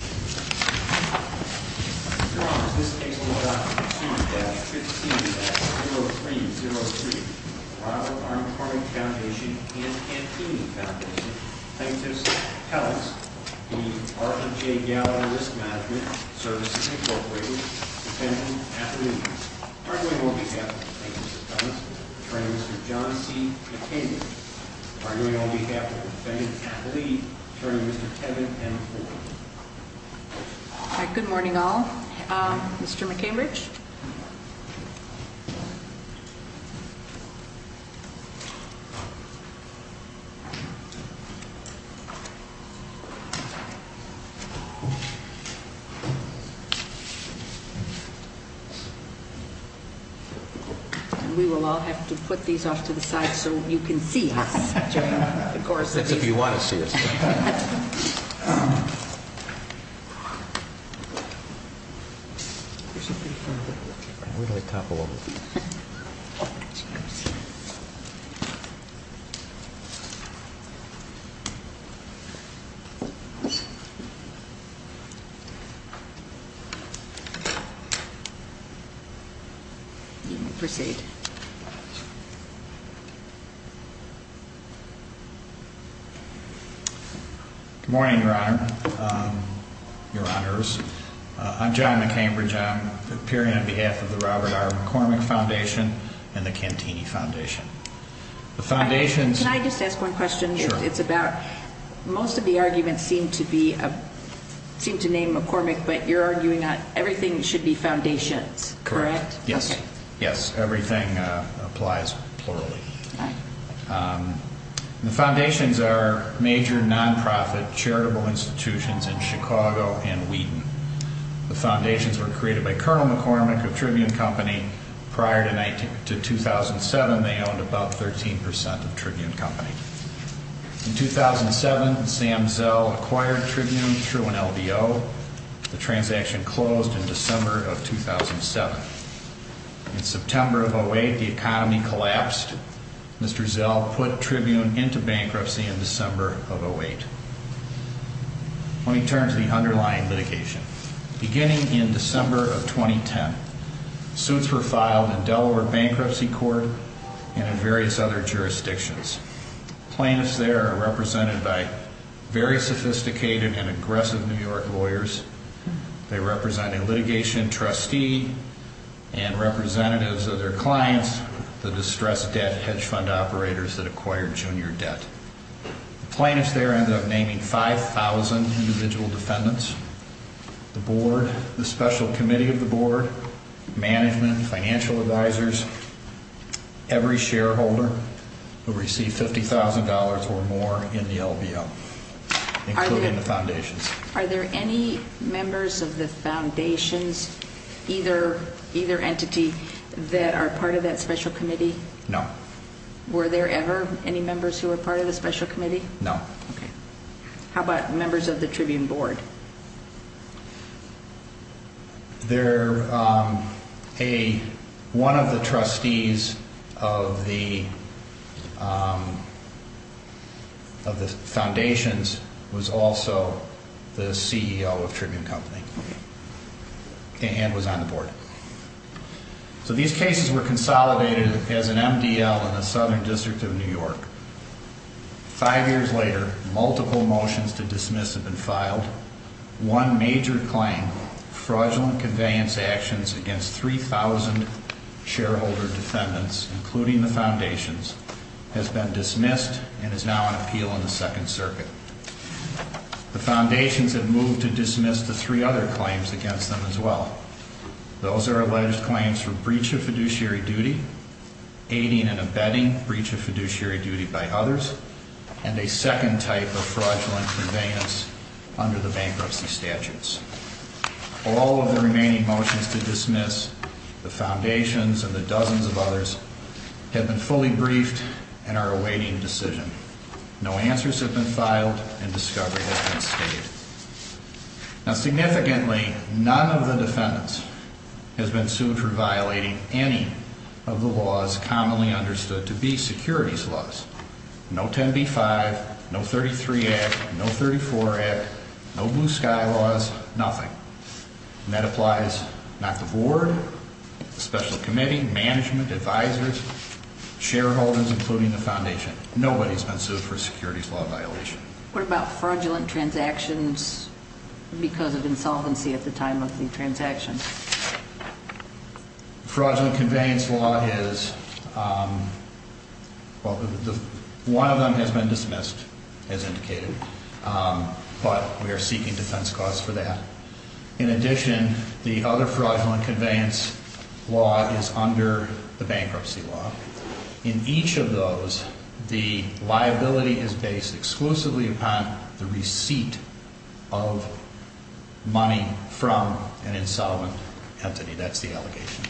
Attorney Mr. Thomas, Attorney Mr. John C. McKinley, arguing on behalf of the defendant's Good morning, all. Mr. McCambridge. We will all have to put these off to the side so you can see us. That's if you want to see us. We're going to talk a little bit. Good morning, Your Honor, Your Honors. I'm John McCambridge. I'm appearing on behalf of the Robert R. McCormick Foundation and the Cantini Foundation. Can I just ask one question? Sure. Most of the arguments seem to name McCormick, but you're arguing that everything should be foundations, correct? Correct. Yes. Okay. Yes, everything applies plurally. All right. The foundations are major nonprofit charitable institutions in Chicago and Wheaton. The foundations were created by Colonel McCormick of Tribune Company. Prior to 2007, they owned about 13% of Tribune Company. In 2007, Sam Zell acquired Tribune through an LBO. The transaction closed in December of 2007. In September of 2008, the economy collapsed. Mr. Zell put Tribune into bankruptcy in December of 2008. Let me turn to the underlying litigation. Beginning in December of 2010, suits were filed in Delaware Bankruptcy Court and in various other jurisdictions. Plaintiffs there are represented by very sophisticated and aggressive New York lawyers. They represent a litigation trustee and representatives of their clients, the distressed debt hedge fund operators that acquired junior debt. The plaintiffs there ended up naming 5,000 individual defendants. The board, the special committee of the board, management, financial advisors, every shareholder who received $50,000 or more in the LBO, including the foundations. Are there any members of the foundations, either entity, that are part of that special committee? No. Were there ever any members who were part of the special committee? No. Okay. How about members of the Tribune board? One of the trustees of the foundations was also the CEO of Tribune Company and was on the board. So these cases were consolidated as an MDL in the Southern District of New York. Five years later, multiple motions to dismiss have been filed. One major claim, fraudulent conveyance actions against 3,000 shareholder defendants, including the foundations, has been dismissed and is now on appeal in the Second Circuit. The foundations have moved to dismiss the three other claims against them as well. Those are alleged claims for breach of fiduciary duty, aiding and abetting breach of fiduciary duty by others, and a second type of fraudulent conveyance under the bankruptcy statutes. All of the remaining motions to dismiss, the foundations and the dozens of others, have been fully briefed and are awaiting decision. No answers have been filed and discovery has been stated. Now, significantly, none of the defendants has been sued for violating any of the laws commonly understood to be securities laws. No 10B-5, no 33 Act, no 34 Act, no Blue Sky laws, nothing. And that applies not the board, the special committee, management, advisors, shareholders, including the foundation. Nobody's been sued for a securities law violation. What about fraudulent transactions because of insolvency at the time of the transaction? Fraudulent conveyance law is, well, one of them has been dismissed, as indicated, but we are seeking defense cause for that. In addition, the other fraudulent conveyance law is under the bankruptcy law. In each of those, the liability is based exclusively upon the receipt of money from an insolvent entity. That's the allegation.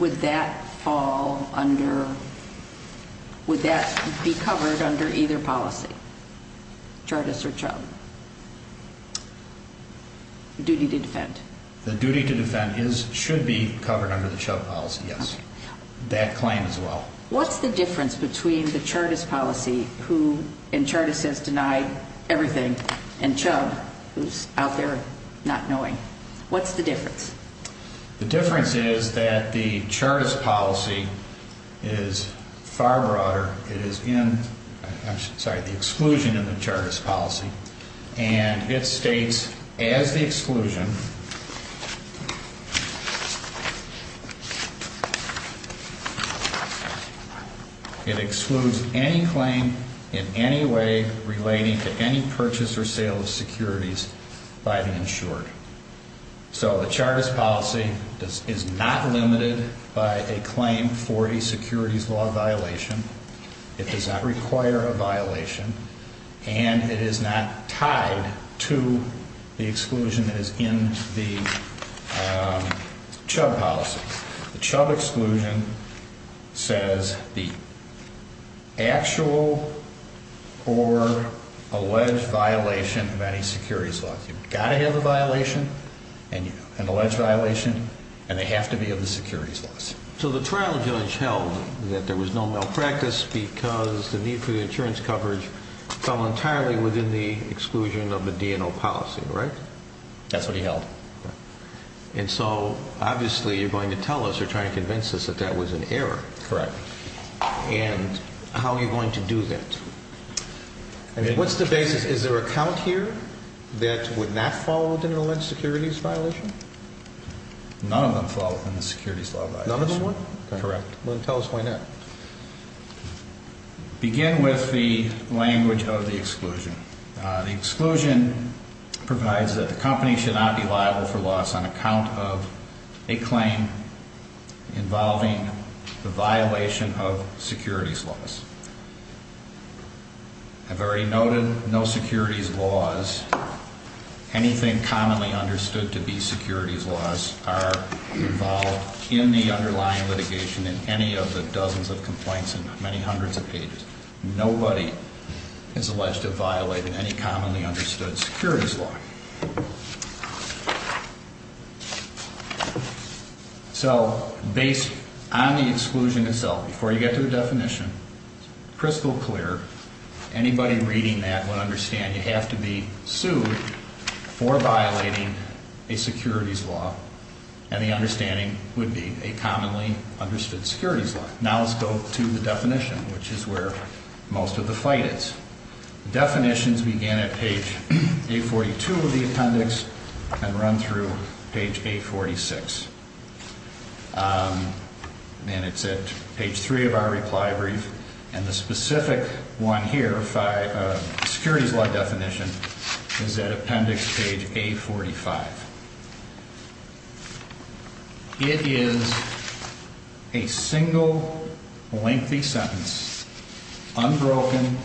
Would that fall under, would that be covered under either policy? Chartist or Chubb? Duty to defend. The duty to defend should be covered under the Chubb policy, yes. That claim as well. What's the difference between the Chartist policy, who in Chartist has denied everything, and Chubb, who's out there not knowing? What's the difference? The difference is that the Chartist policy is far broader. It is in, I'm sorry, the exclusion in the Chartist policy, and it states as the exclusion, it excludes any claim in any way relating to any purchase or sale of securities by the insured. So the Chartist policy is not limited by a claim for a securities law violation. It does not require a violation, and it is not tied to the exclusion that is in the Chubb policy. The Chubb exclusion says the actual or alleged violation of any securities law. You've got to have a violation, an alleged violation, and they have to be of the securities laws. So the trial judge held that there was no malpractice because the need for the insurance coverage fell entirely within the exclusion of the DNO policy, right? That's what he held. And so obviously you're going to tell us or try to convince us that that was an error. Correct. And how are you going to do that? What's the basis? Is there a count here that would not fall within an alleged securities violation? None of them fall within the securities law violation. None of them would? Correct. Well, then tell us why not. Begin with the language of the exclusion. The exclusion provides that the company should not be liable for loss on account of a claim involving the violation of securities laws. I've already noted no securities laws. Anything commonly understood to be securities laws are involved in the underlying litigation in any of the dozens of complaints and many hundreds of pages. Nobody is alleged to have violated any commonly understood securities law. So based on the exclusion itself, before you get to the definition, crystal clear, anybody reading that would understand you have to be sued for violating a securities law. And the understanding would be a commonly understood securities law. Now let's go to the definition, which is where most of the fight is. Definitions begin at page 842 of the appendix and run through page 846. And it's at page three of our reply brief. And the specific one here, securities law definition, is at appendix page 845. It is a single lengthy sentence unbroken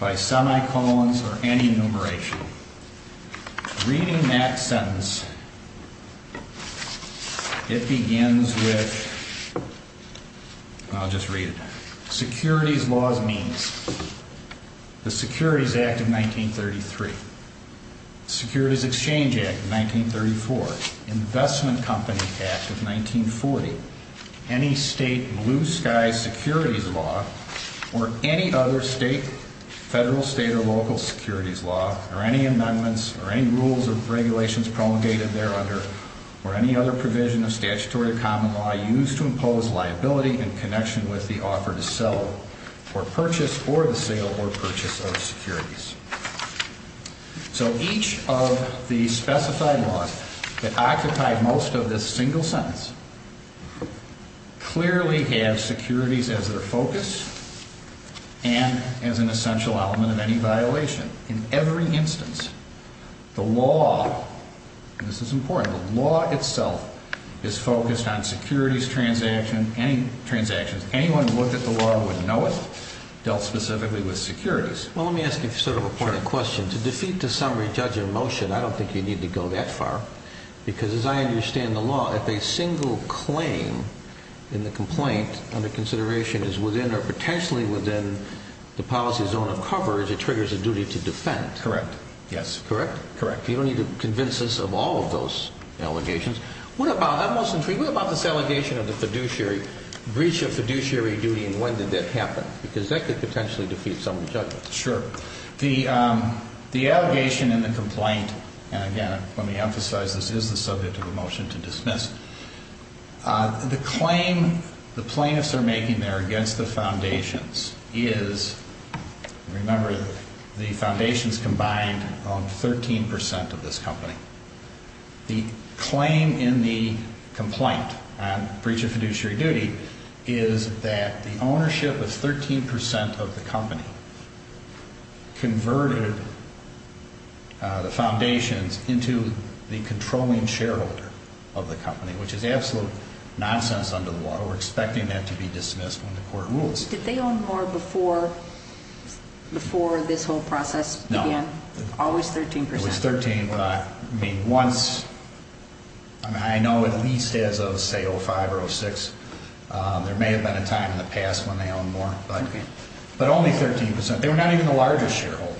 by semicolons or any enumeration. Reading that sentence, it begins with, I'll just read it. Securities law means the Securities Act of 1933, Securities Exchange Act of 1934, Investment Company Act of 1940, any state blue sky securities law, or any other state, federal, state, or local securities law, or any amendments or any rules or regulations promulgated there under, or any other provision of statutory or common law used to impose liability in connection with the offer to sell or purchase or the sale or purchase of securities. So each of the specified laws that occupy most of this single sentence clearly have securities as their focus and as an essential element of any violation. In every instance, the law, and this is important, the law itself is focused on securities transactions. Anyone who looked at the law and wouldn't know it dealt specifically with securities. Well, let me ask you sort of a point of question. To defeat the summary judge in motion, I don't think you need to go that far. Because as I understand the law, if a single claim in the complaint under consideration is within or potentially within the policy zone of coverage, it triggers a duty to defend. Correct. Yes. Correct? Correct. You don't need to convince us of all of those allegations. What about, I'm most intrigued, what about this allegation of the fiduciary, breach of fiduciary duty, and when did that happen? Because that could potentially defeat summary judge. Sure. The, the allegation in the complaint, and again, let me emphasize this is the subject of a motion to dismiss. The claim the plaintiffs are making there against the foundations is, remember, the foundations combined own 13% of this company. The claim in the complaint on breach of fiduciary duty is that the ownership of 13% of the company converted the foundations into the controlling shareholder of the company, which is absolute nonsense under the law. We're expecting that to be dismissed when the court rules. Did they own more before, before this whole process began? No. Always 13%? Always 13%. I mean, once, I mean, I know at least as of, say, 05 or 06, there may have been a time in the past when they owned more, but only 13%. They were not even the largest shareholder.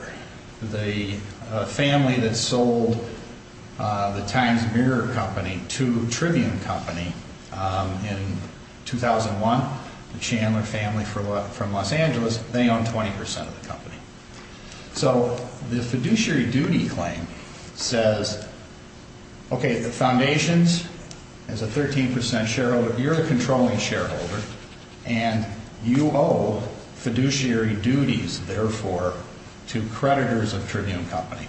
The family that sold the Times Mirror Company to Tribune Company in 2001, the Chandler family from Los Angeles, they owned 20% of the company. So the fiduciary duty claim says, okay, the foundations as a 13% shareholder, you're a controlling shareholder, and you owe fiduciary duties, therefore, to creditors of Tribune Company.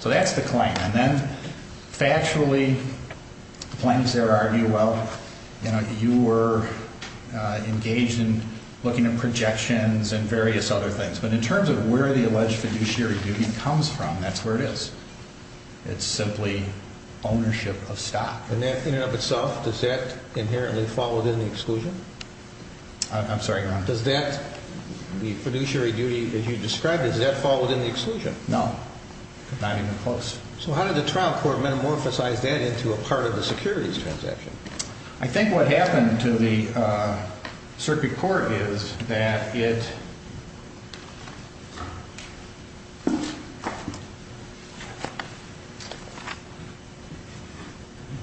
So that's the claim. And then factually, the plaintiffs there argue, well, you know, you were engaged in looking at projections and various other things. But in terms of where the alleged fiduciary duty comes from, that's where it is. It's simply ownership of stock. And that in and of itself, does that inherently fall within the exclusion? I'm sorry, Your Honor. Does that, the fiduciary duty that you described, does that fall within the exclusion? No. Not even close. So how did the trial court metamorphosize that into a part of the securities transaction? I think what happened to the circuit court is that it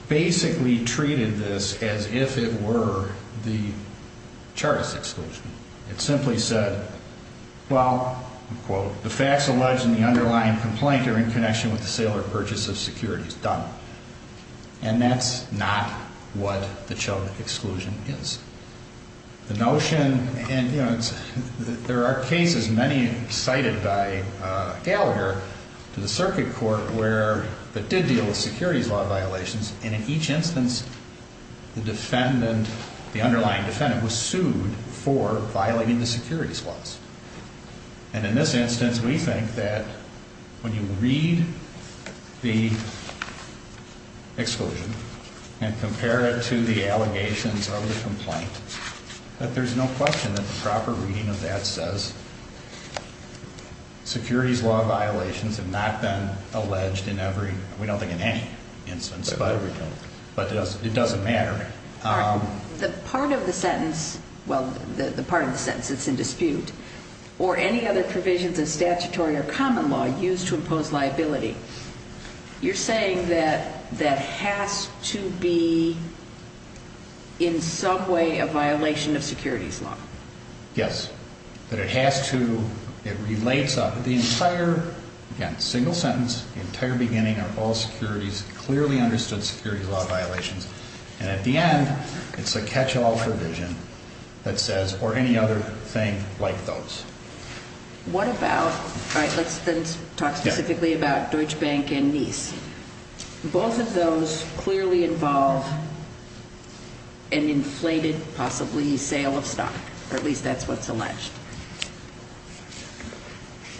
basically treated this as if it were the Chartist exclusion. It simply said, well, quote, the facts alleged in the underlying complaint are in connection with the sale or purchase of securities. And that's not what the Chartist exclusion is. The notion, and, you know, there are cases, many cited by Gallagher, to the circuit court where it did deal with securities law violations. And in each instance, the defendant, the underlying defendant, was sued for violating the securities laws. And in this instance, we think that when you read the exclusion and compare it to the allegations of the complaint, that there's no question that the proper reading of that says securities law violations have not been alleged in every, we don't think in any instance, but it doesn't matter. The part of the sentence, well, the part of the sentence that's in dispute, or any other provisions of statutory or common law used to impose liability, you're saying that that has to be in some way a violation of securities law. Yes. But it has to, it relates, the entire, again, single sentence, the entire beginning, are all securities, clearly understood securities law violations. And at the end, it's a catch-all provision that says, or any other thing like those. What about, all right, let's then talk specifically about Deutsche Bank and NIS. Both of those clearly involve an inflated, possibly, sale of stock, or at least that's what's alleged.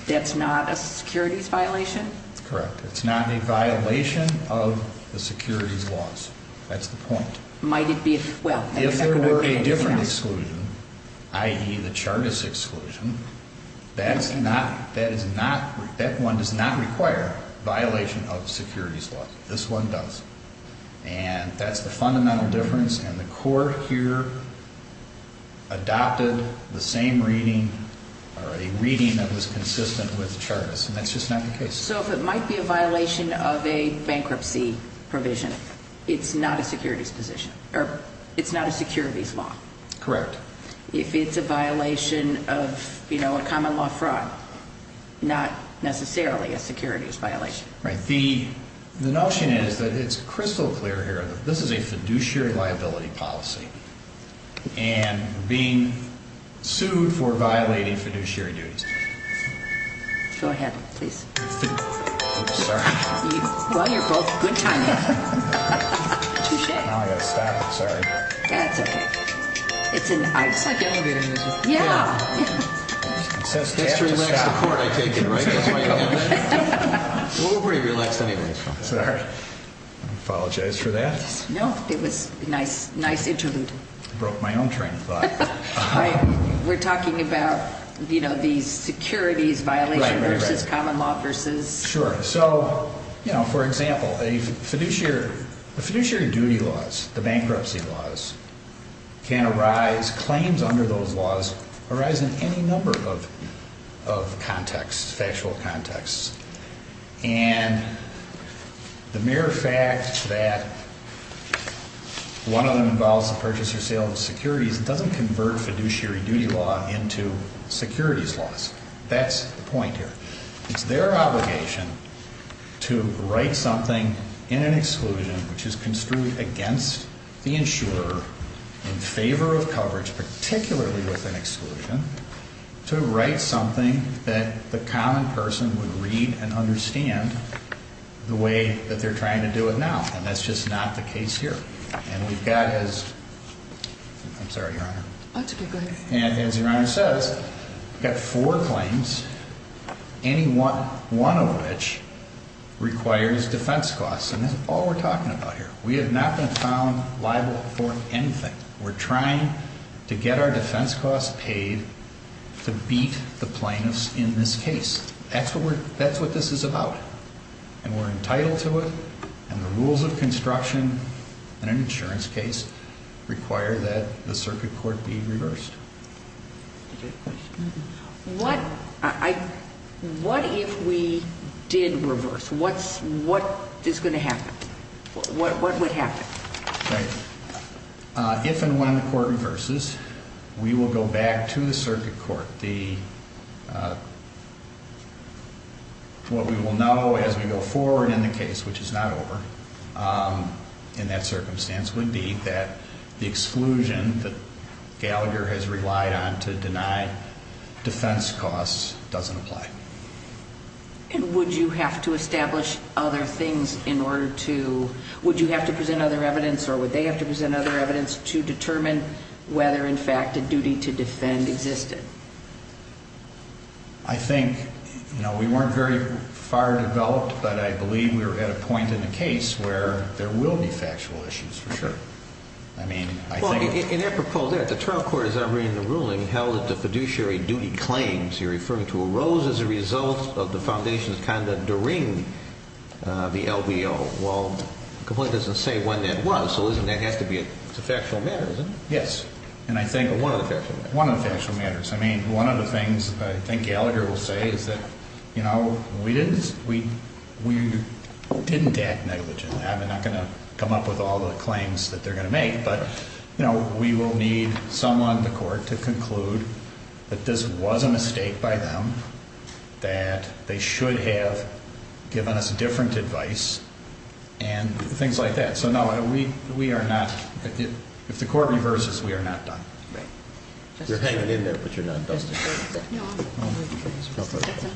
That's not a securities violation? That's correct. It's not a violation of the securities laws. That's the point. Might it be, well. If there were a different exclusion, i.e., the Chartist exclusion, that's not, that is not, that one does not require violation of securities law. This one does. And that's the fundamental difference, and the court here adopted the same reading, or a reading that was consistent with Chartist, and that's just not the case. So if it might be a violation of a bankruptcy provision, it's not a securities position, or it's not a securities law. Correct. If it's a violation of, you know, a common law fraud, not necessarily a securities violation. Right. The notion is that it's crystal clear here that this is a fiduciary liability policy, and we're being sued for violating fiduciary duties. Go ahead, please. I'm sorry. Well, you're both good timers. Touche. I've got to stop. I'm sorry. That's okay. It's an out. It's like elevating this. Yeah. It's to relax the court, I take it, right? That's why you're here. We're pretty relaxed anyway. I'm sorry. I apologize for that. No, it was a nice interlude. Broke my own train of thought. We're talking about, you know, these securities violations versus common law versus... Sure. So, you know, for example, the fiduciary duty laws, the bankruptcy laws, can arise, claims under those laws, arise in any number of contexts, factual contexts. And the mere fact that one of them involves the purchase or sale of securities doesn't convert fiduciary duty law into securities laws. That's the point here. It's their obligation to write something in an exclusion which is construed against the insurer in favor of coverage, particularly with an exclusion, to write something that the common person would read and understand the way that they're trying to do it now. And that's just not the case here. And we've got as... I'm sorry, Your Honor. That's okay. Go ahead. And as Your Honor says, we've got four claims, any one of which requires defense costs. And that's all we're talking about here. We have not been found liable for anything. We're trying to get our defense costs paid to beat the plaintiffs in this case. That's what this is about. And we're entitled to it. And the rules of construction in an insurance case require that the circuit court be reversed. What if we did reverse? What is going to happen? What would happen? If and when the court reverses, we will go back to the circuit court. What we will know as we go forward in the case, which is not over in that circumstance, would be that the exclusion that Gallagher has relied on to deny defense costs doesn't apply. And would you have to establish other things in order to... Would you have to present other evidence or would they have to present other evidence to determine whether, in fact, a duty to defend existed? I think, you know, we weren't very far developed, but I believe we were at a point in the case where there will be factual issues for sure. I mean, I think... In apropos there, the trial court, as I'm reading the ruling, held that the fiduciary duty claims you're referring to arose as a result of the foundation's conduct during the LBO. Well, it completely doesn't say when that was, so that has to be a factual matter, doesn't it? Yes, and I think one of the factual matters. One of the factual matters. I mean, one of the things I think Gallagher will say is that, you know, we didn't act negligently. I'm not going to come up with all the claims that they're going to make, but, you know, we will need someone in the court to conclude that this was a mistake by them, that they should have given us different advice, and things like that. So, no, we are not... If the court reverses, we are not done. Right. You're hanging in there, but you're not dusted.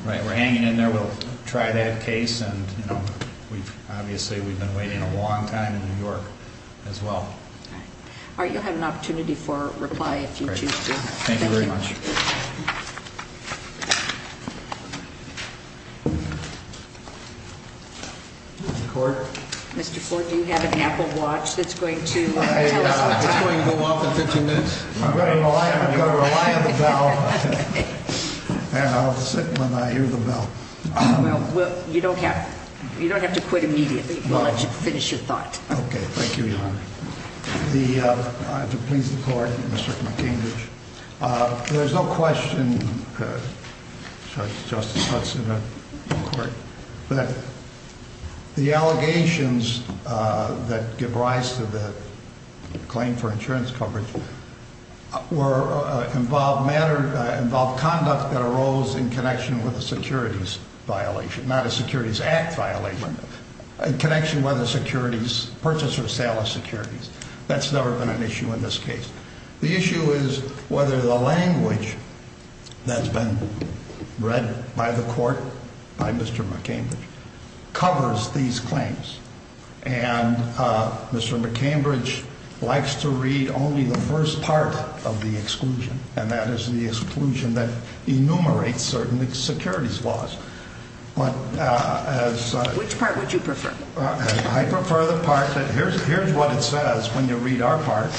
Right, we're hanging in there. We'll try that case, and, you know, obviously we've been waiting a long time in New York as well. All right, you'll have an opportunity for reply if you choose to. Thank you very much. Mr. Ford? Mr. Ford, do you have an Apple watch that's going to tell us what time? It's going to go off in 15 minutes. I'm going to rely on the bell, and I'll sit when I hear the bell. Well, you don't have to quit immediately. We'll let you finish your thought. Okay, thank you, Your Honor. I have to please the court, Mr. McCainbridge. There's no question that the allegations that give rise to the claim for insurance coverage involve conduct that arose in connection with a securities violation, not a securities act violation, in connection with a securities purchase or sale of securities. That's never been an issue in this case. The issue is whether the language that's been read by the court by Mr. McCainbridge covers these claims. And Mr. McCainbridge likes to read only the first part of the exclusion, and that is the exclusion that enumerates certain securities laws. Which part would you prefer? I prefer the part that here's what it says when you read our part.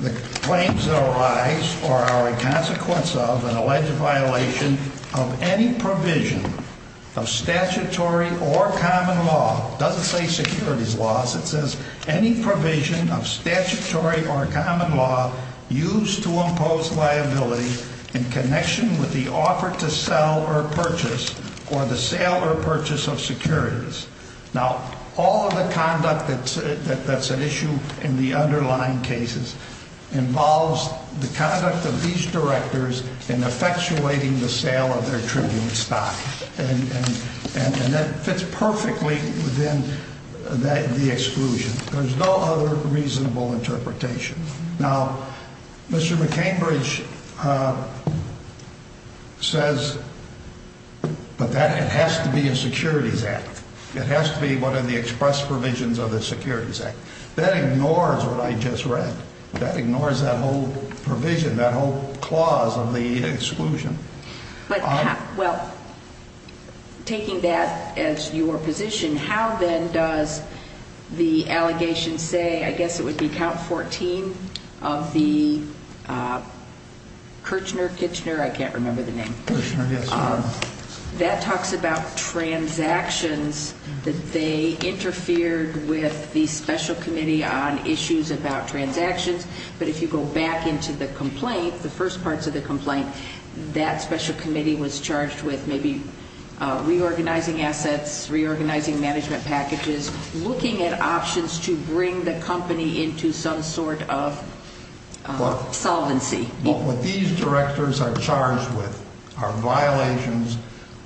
The claims that arise are a consequence of an alleged violation of any provision of statutory or common law. It doesn't say securities laws. It says any provision of statutory or common law used to impose liability in connection with the offer to sell or purchase or the sale or purchase of securities. Now, all of the conduct that's at issue in the underlying cases involves the conduct of these directors in effectuating the sale of their tribute stock. And that fits perfectly within the exclusion. There's no other reasonable interpretation. Now, Mr. McCainbridge says, but that has to be a securities act. It has to be one of the express provisions of the Securities Act. That ignores what I just read. That ignores that whole provision, that whole clause of the exclusion. But, well, taking that as your position, how then does the allegation say, I guess it would be count 14 of the Kirchner-Kitchener, I can't remember the name. Kirchner, yes, ma'am. That talks about transactions that they interfered with the special committee on issues about transactions. But if you go back into the complaint, the first parts of the complaint, that special committee was charged with maybe reorganizing assets, reorganizing management packages, looking at options to bring the company into some sort of solvency. What these directors are charged with are violations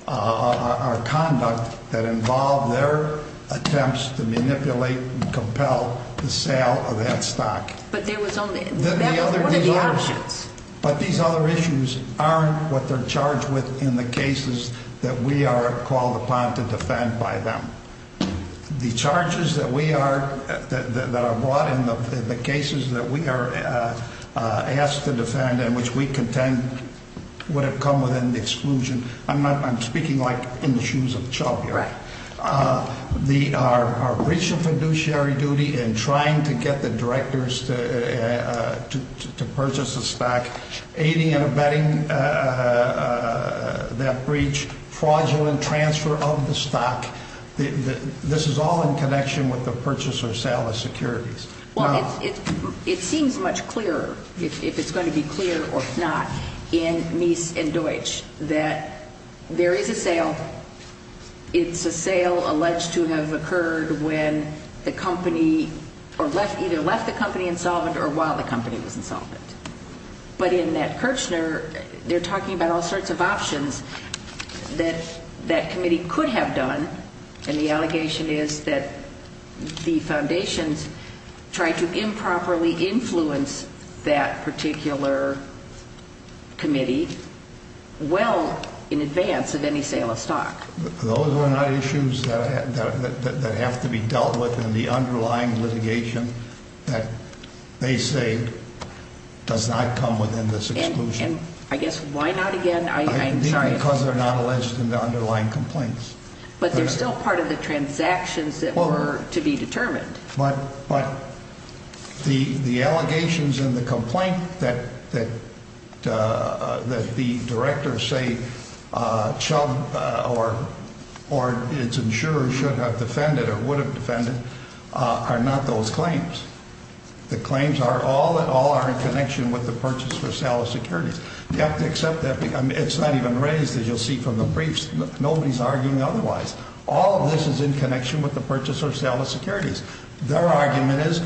of our conduct that involve their attempts to manipulate and compel the sale of that stock. But there was only, what are the options? But these other issues aren't what they're charged with in the cases that we are called upon to defend by them. The charges that we are, that are brought in the cases that we are asked to defend and which we contend would have come within the exclusion, I'm speaking like in the shoes of Chauvier. Right. The breach of fiduciary duty and trying to get the directors to purchase a stock, aiding and abetting that breach, fraudulent transfer of the stock. This is all in connection with the purchase or sale of securities. Well, it seems much clearer, if it's going to be clear or not, in Mies and Deutsch that there is a sale. It's a sale alleged to have occurred when the company, or either left the company insolvent or while the company was insolvent. But in that Kirchner, they're talking about all sorts of options that that committee could have done. And the allegation is that the foundations tried to improperly influence that particular committee well in advance of any sale of stock. Those are not issues that have to be dealt with in the underlying litigation that they say does not come within this exclusion. And I guess why not again? I'm sorry. Because they're not alleged in the underlying complaints. But they're still part of the transactions that were to be determined. But the allegations in the complaint that the directors say Chubb or its insurers should have defended or would have defended are not those claims. The claims are all that all are in connection with the purchase or sale of securities. You have to accept that. It's not even raised, as you'll see from the briefs. Nobody's arguing otherwise. All of this is in connection with the purchase or sale of securities. Their argument is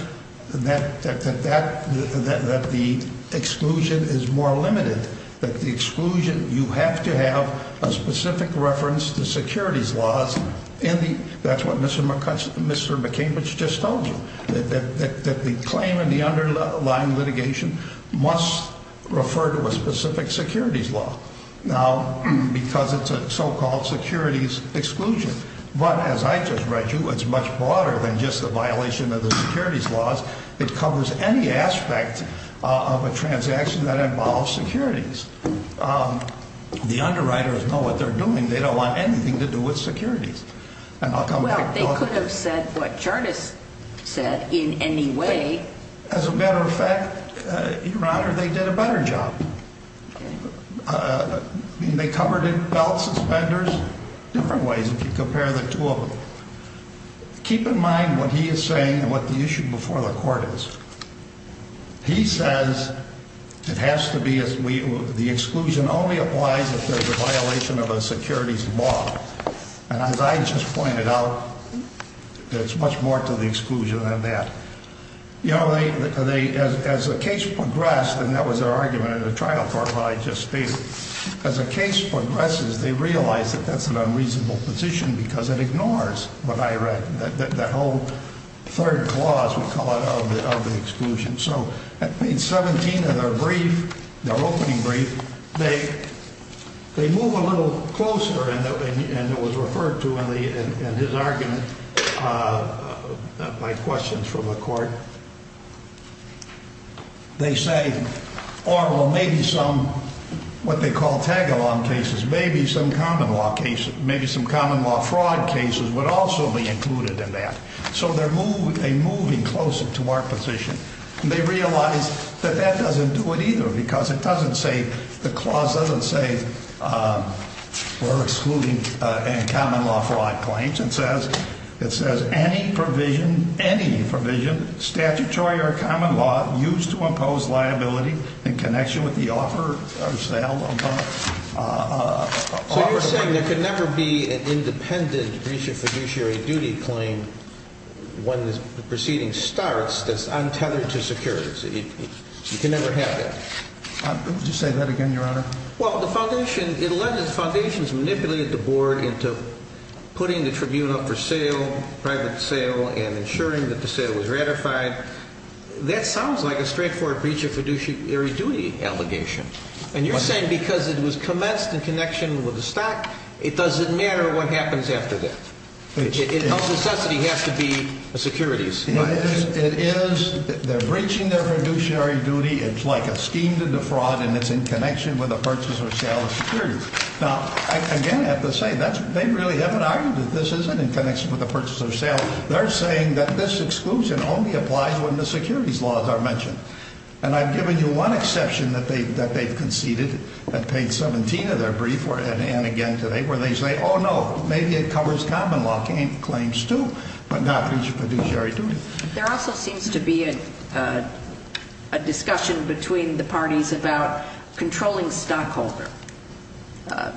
that the exclusion is more limited, that the exclusion, you have to have a specific reference to securities laws. And that's what Mr. McCambridge just told you, that the claim in the underlying litigation must refer to a specific securities law. Now, because it's a so-called securities exclusion. But as I just read you, it's much broader than just the violation of the securities laws. It covers any aspect of a transaction that involves securities. The underwriters know what they're doing. They don't want anything to do with securities. Well, they could have said what Jardis said in any way. As a matter of fact, Your Honor, they did a better job. I mean, they covered it in belt suspenders. Different ways if you compare the two of them. Keep in mind what he is saying and what the issue before the court is. He says it has to be as we, the exclusion only applies if there's a violation of a securities law. And as I just pointed out, it's much more to the exclusion than that. You know, as the case progressed, and that was their argument in the trial court that I just stated. As the case progresses, they realize that that's an unreasonable position because it ignores what I read. The whole third clause, we call it, of the exclusion. So page 17 of their brief, their opening brief, they move a little closer. And it was referred to in his argument by questions from the court. They say, or maybe some, what they call tag-along cases, maybe some common law cases. Maybe some common law fraud cases would also be included in that. So they're moving closer to our position. They realize that that doesn't do it either because it doesn't say, the clause doesn't say we're excluding common law fraud claims. It says, any provision, any provision, statutory or common law, used to impose liability in connection with the offer of sale. So you're saying there can never be an independent breach of fiduciary duty claim when the proceeding starts that's untethered to securities. You can never have that. Would you say that again, Your Honor? Well, the foundation, it alleged that the foundation has manipulated the board into putting the tribunal up for sale, private sale, and ensuring that the sale was ratified. That sounds like a straightforward breach of fiduciary duty allegation. And you're saying because it was commenced in connection with the stock, it doesn't matter what happens after that. It no necessity has to be securities. It is. They're breaching their fiduciary duty. It's like a scheme to defraud, and it's in connection with a purchase or sale of securities. Now, again, I have to say, they really haven't argued that this isn't in connection with a purchase or sale. They're saying that this exclusion only applies when the securities laws are mentioned. And I've given you one exception that they've conceded at page 17 of their brief, and again today, where they say, oh, no, maybe it covers common law claims, too, but not fiduciary duty. There also seems to be a discussion between the parties about controlling stockholder.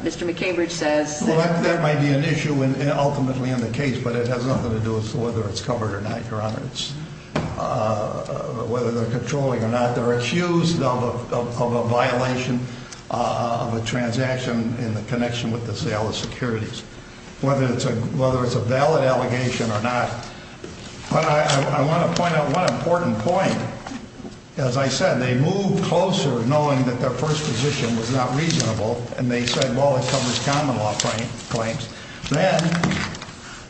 Mr. McCambridge says that – Well, that might be an issue ultimately in the case, but it has nothing to do with whether it's covered or not, Your Honor. Whether they're controlling or not. They're accused of a violation of a transaction in connection with the sale of securities. Whether it's a valid allegation or not. But I want to point out one important point. As I said, they moved closer knowing that their first position was not reasonable, and they said, well, it covers common law claims. Then,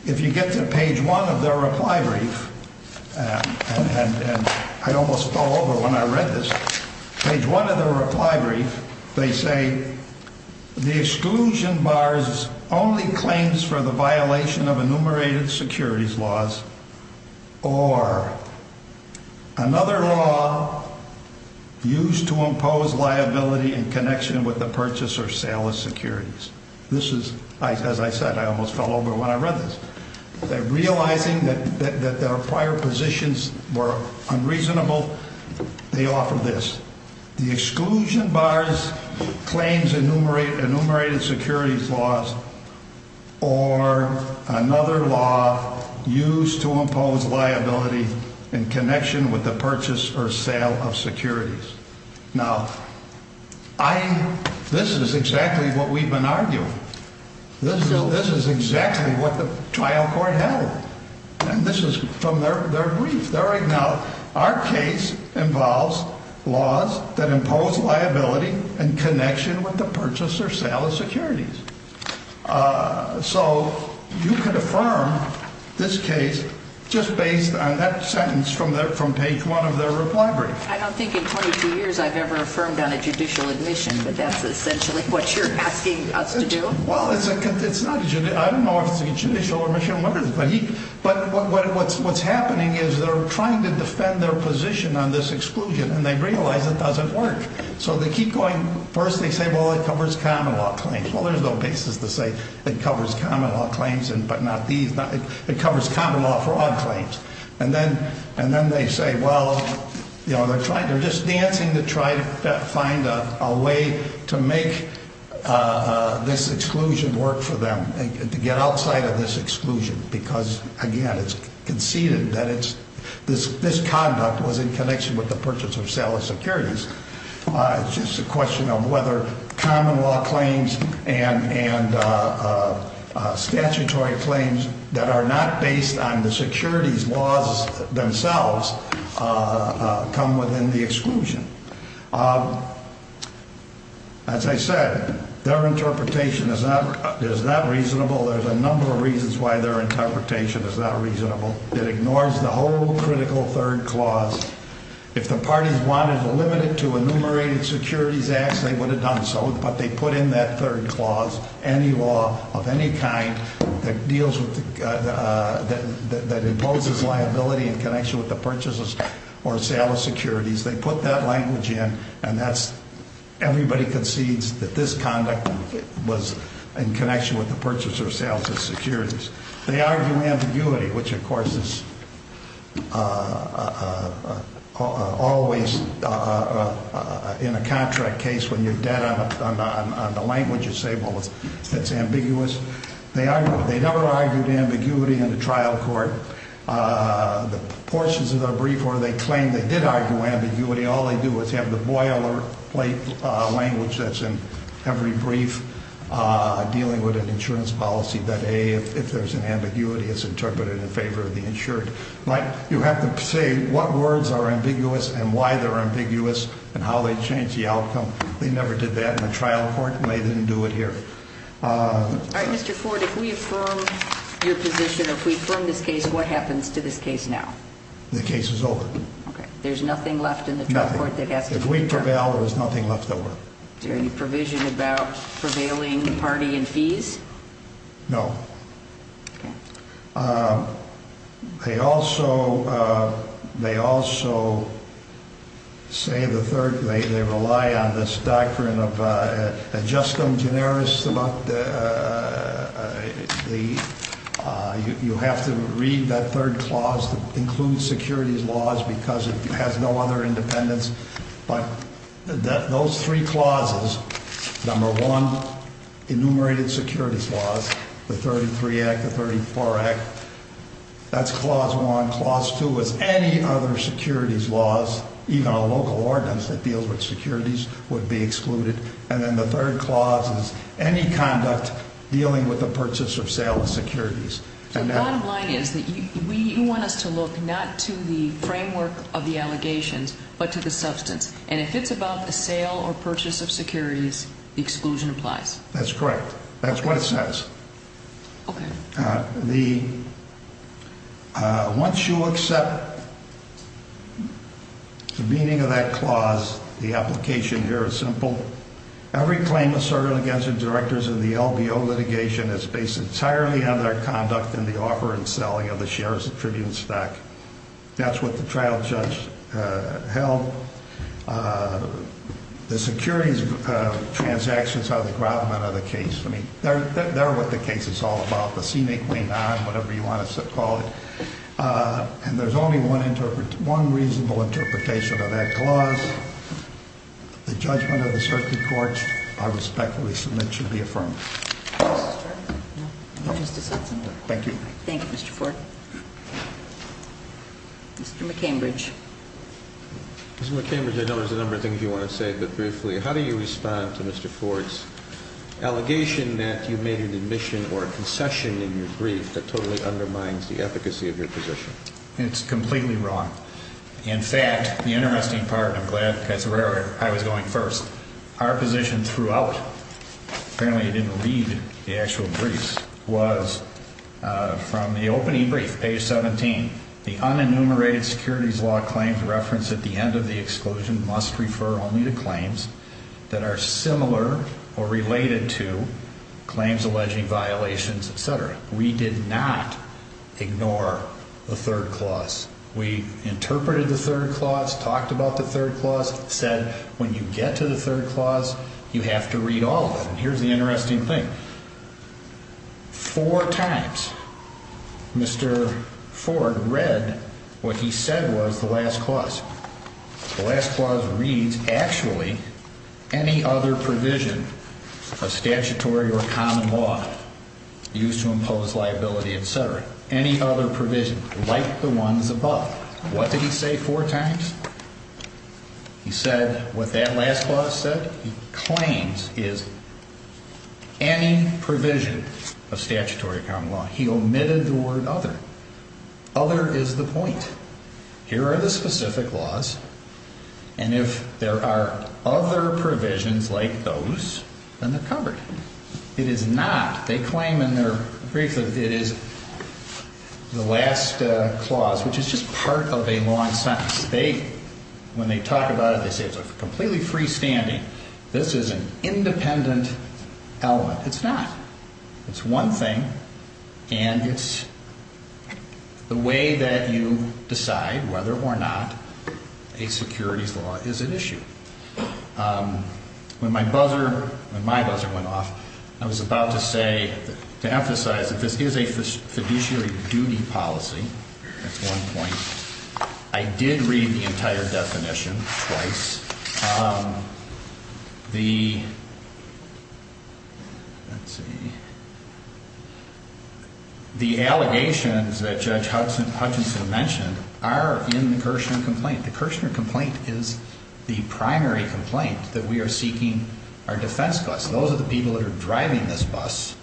if you get to page 1 of their reply brief, and I almost fell over when I read this. Page 1 of their reply brief, they say, the exclusion bars only claims for the violation of enumerated securities laws or another law used to impose liability in connection with the purchase or sale of securities. This is – as I said, I almost fell over when I read this. Realizing that their prior positions were unreasonable, they offer this. The exclusion bars claims enumerated securities laws or another law used to impose liability in connection with the purchase or sale of securities. Now, this is exactly what we've been arguing. This is exactly what the trial court held. And this is from their brief. Now, our case involves laws that impose liability in connection with the purchase or sale of securities. So you can affirm this case just based on that sentence from page 1 of their reply brief. I don't think in 22 years I've ever affirmed on a judicial admission, but that's essentially what you're asking us to do? Well, it's not – I don't know if it's a judicial admission or whatever. But what's happening is they're trying to defend their position on this exclusion, and they realize it doesn't work. So they keep going – first they say, well, it covers common law claims. Well, there's no basis to say it covers common law claims, but not these – it covers common law fraud claims. And then they say, well, they're trying – they're just dancing to try to find a way to make this exclusion work for them, to get outside of this exclusion. Because, again, it's conceded that it's – this conduct was in connection with the purchase or sale of securities. It's just a question of whether common law claims and statutory claims that are not based on the securities laws themselves come within the exclusion. As I said, their interpretation is not reasonable. There's a number of reasons why their interpretation is not reasonable. It ignores the whole critical third clause. If the parties wanted to limit it to enumerated securities acts, they would have done so. But they put in that third clause any law of any kind that deals with – that imposes liability in connection with the purchase or sale of securities. They put that language in, and that's – everybody concedes that this conduct was in connection with the purchase or sale of securities. They argue ambiguity, which, of course, is always in a contract case when you're dead on the language. You say, well, it's ambiguous. They never argued ambiguity in the trial court. The portions of their brief where they claim they did argue ambiguity, all they do is have the boilerplate language that's in every brief dealing with an insurance policy that, A, if there's an ambiguity, it's interpreted in favor of the insured. You have to say what words are ambiguous and why they're ambiguous and how they change the outcome. They never did that in the trial court, and they didn't do it here. All right, Mr. Ford, if we affirm your position, if we affirm this case, what happens to this case now? The case is over. Okay. There's nothing left in the trial court that has to be – Nothing. If we prevail, there's nothing left over. Is there any provision about prevailing party and fees? No. They also say the third – they rely on this doctrine of ad justum generis. You have to read that third clause that includes securities laws because it has no other independence. But those three clauses, number one, enumerated securities laws, the 33 Act, the 34 Act, that's clause one. Clause two is any other securities laws, even a local ordinance that deals with securities, would be excluded. And then the third clause is any conduct dealing with the purchase or sale of securities. So the bottom line is that you want us to look not to the framework of the allegations but to the substance. And if it's about the sale or purchase of securities, the exclusion applies. That's correct. That's what it says. Okay. The – once you accept the meaning of that clause, the application here is simple. Every claim asserted against the directors of the LBO litigation is based entirely on their conduct in the offer and selling of the shares of Tribune Stock. That's what the trial judge held. The securities transactions are the groundmen of the case. I mean, they're what the case is all about, the scenic way, whatever you want to call it. And there's only one reasonable interpretation of that clause. The judgment of the circuit courts, I respectfully submit, should be affirmed. Mr. Chairman? No. Thank you. Thank you, Mr. Ford. Mr. McCambridge. Mr. McCambridge, I know there's a number of things you want to say, but briefly, how do you respond to Mr. Ford's allegation that you made an admission or a concession in your brief that totally undermines the efficacy of your position? It's completely wrong. In fact, the interesting part, and I'm glad that's where I was going first, our position throughout, apparently you didn't read the actual briefs, was from the opening brief, page 17, the unenumerated securities law claims referenced at the end of the exclusion must refer only to claims that are similar or related to claims alleging violations, et cetera. We did not ignore the third clause. We interpreted the third clause, talked about the third clause, said when you get to the third clause, you have to read all of them. And here's the interesting thing. Four times Mr. Ford read what he said was the last clause. The last clause reads, actually, any other provision of statutory or common law used to impose liability, et cetera. Any other provision like the ones above. What did he say four times? He said what that last clause said. He claims is any provision of statutory common law. He omitted the word other. Other is the point. Here are the specific laws, and if there are other provisions like those, then they're covered. It is not. They claim in their brief that it is the last clause, which is just part of a long sentence. They, when they talk about it, they say it's completely freestanding. This is an independent element. It's not. It's one thing, and it's the way that you decide whether or not a securities law is an issue. When my buzzer went off, I was about to say, to emphasize that this is a fiduciary duty policy. That's one point. I did read the entire definition twice. The allegations that Judge Hutchinson mentioned are in the Kirchner complaint. The Kirchner complaint is the primary complaint that we are seeking our defense costs. Those are the people that are driving this bus,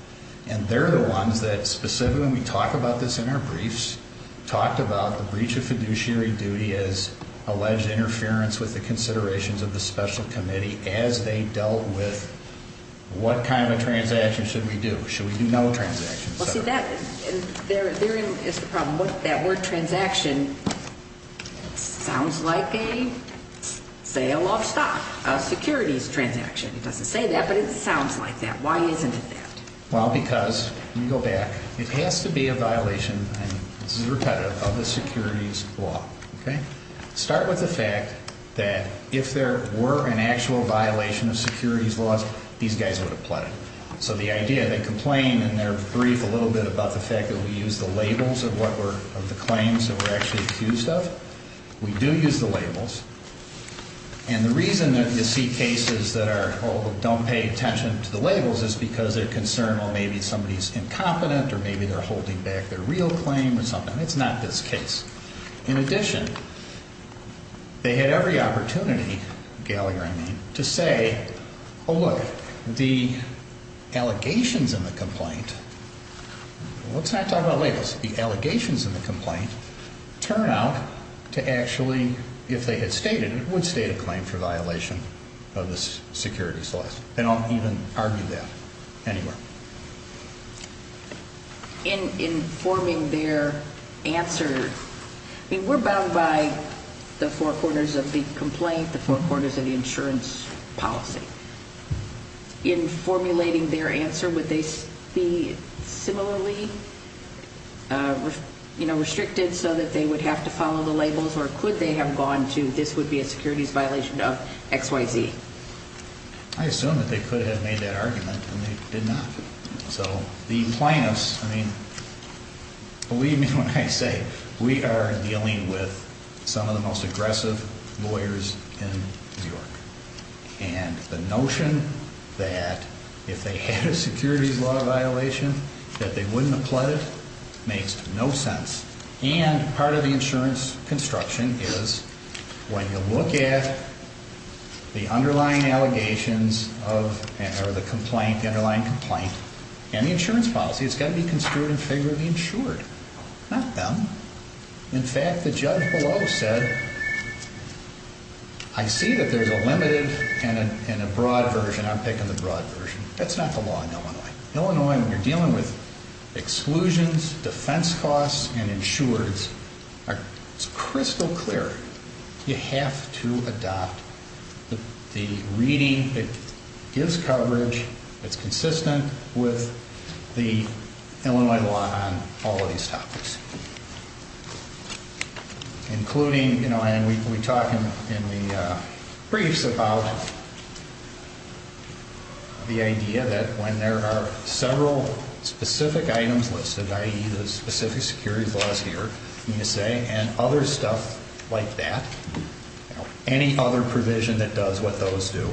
and they're the ones that specifically, when we talk about this in our briefs, talked about the breach of fiduciary duty as alleged interference with the considerations of the special committee as they dealt with what kind of a transaction should we do. Should we do no transactions? Therein is the problem. That word transaction sounds like a sale of stock, a securities transaction. It doesn't say that, but it sounds like that. Why isn't it that? Well, because, let me go back, it has to be a violation, and this is repetitive, of the securities law. Start with the fact that if there were an actual violation of securities laws, these guys would have pled it. So the idea, they complain in their brief a little bit about the fact that we use the labels of the claims that we're actually accused of. We do use the labels. And the reason that you see cases that don't pay attention to the labels is because they're concerned, well, maybe somebody's incompetent or maybe they're holding back their real claim or something. It's not this case. In addition, they had every opportunity, Gallagher, I mean, to say, oh, look, the allegations in the complaint, well, let's not talk about labels. The allegations in the complaint turn out to actually, if they had stated it, would state a claim for violation of the securities laws. They don't even argue that anywhere. In forming their answer, I mean, we're bound by the four corners of the complaint, the four corners of the insurance policy. In formulating their answer, would they be similarly, you know, restricted so that they would have to follow the labels or could they have gone to this would be a securities violation of XYZ? I assume that they could have made that argument and they did not. So the plaintiffs, I mean, believe me when I say we are dealing with some of the most aggressive lawyers in New York. And the notion that if they had a securities law violation that they wouldn't applaud it makes no sense. And part of the insurance construction is when you look at the underlying allegations of the complaint, the underlying complaint and the insurance policy, it's got to be construed in favor of the insured, not them. In fact, the judge below said, I see that there's a limited and a broad version. I'm picking the broad version. That's not the law in Illinois. Illinois, when you're dealing with exclusions, defense costs and insureds, it's crystal clear. You have to adopt the reading that gives coverage that's consistent with the Illinois law on all of these topics. Including, you know, and we talk in the briefs about the idea that when there are several specific items listed, i.e. the specific securities laws here, and other stuff like that, any other provision that does what those do,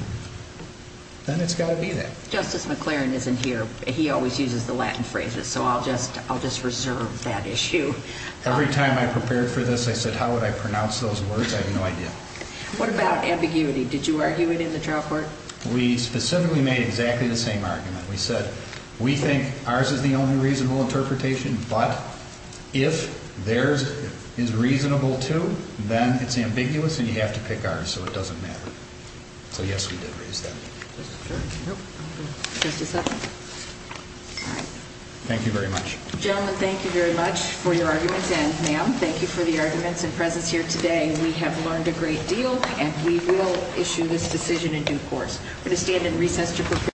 then it's got to be that. Justice McLaren isn't here. He always uses the Latin phrases. So I'll just reserve that issue. Every time I prepared for this, I said, how would I pronounce those words? I have no idea. What about ambiguity? Did you argue it in the trial court? We specifically made exactly the same argument. We said, we think ours is the only reasonable interpretation. But if theirs is reasonable, too, then it's ambiguous and you have to pick ours. So it doesn't matter. So, yes, we did raise that. Thank you very much. Gentlemen, thank you very much for your arguments. And, ma'am, thank you for the arguments and presence here today. We have learned a great deal and we will issue this decision in due course.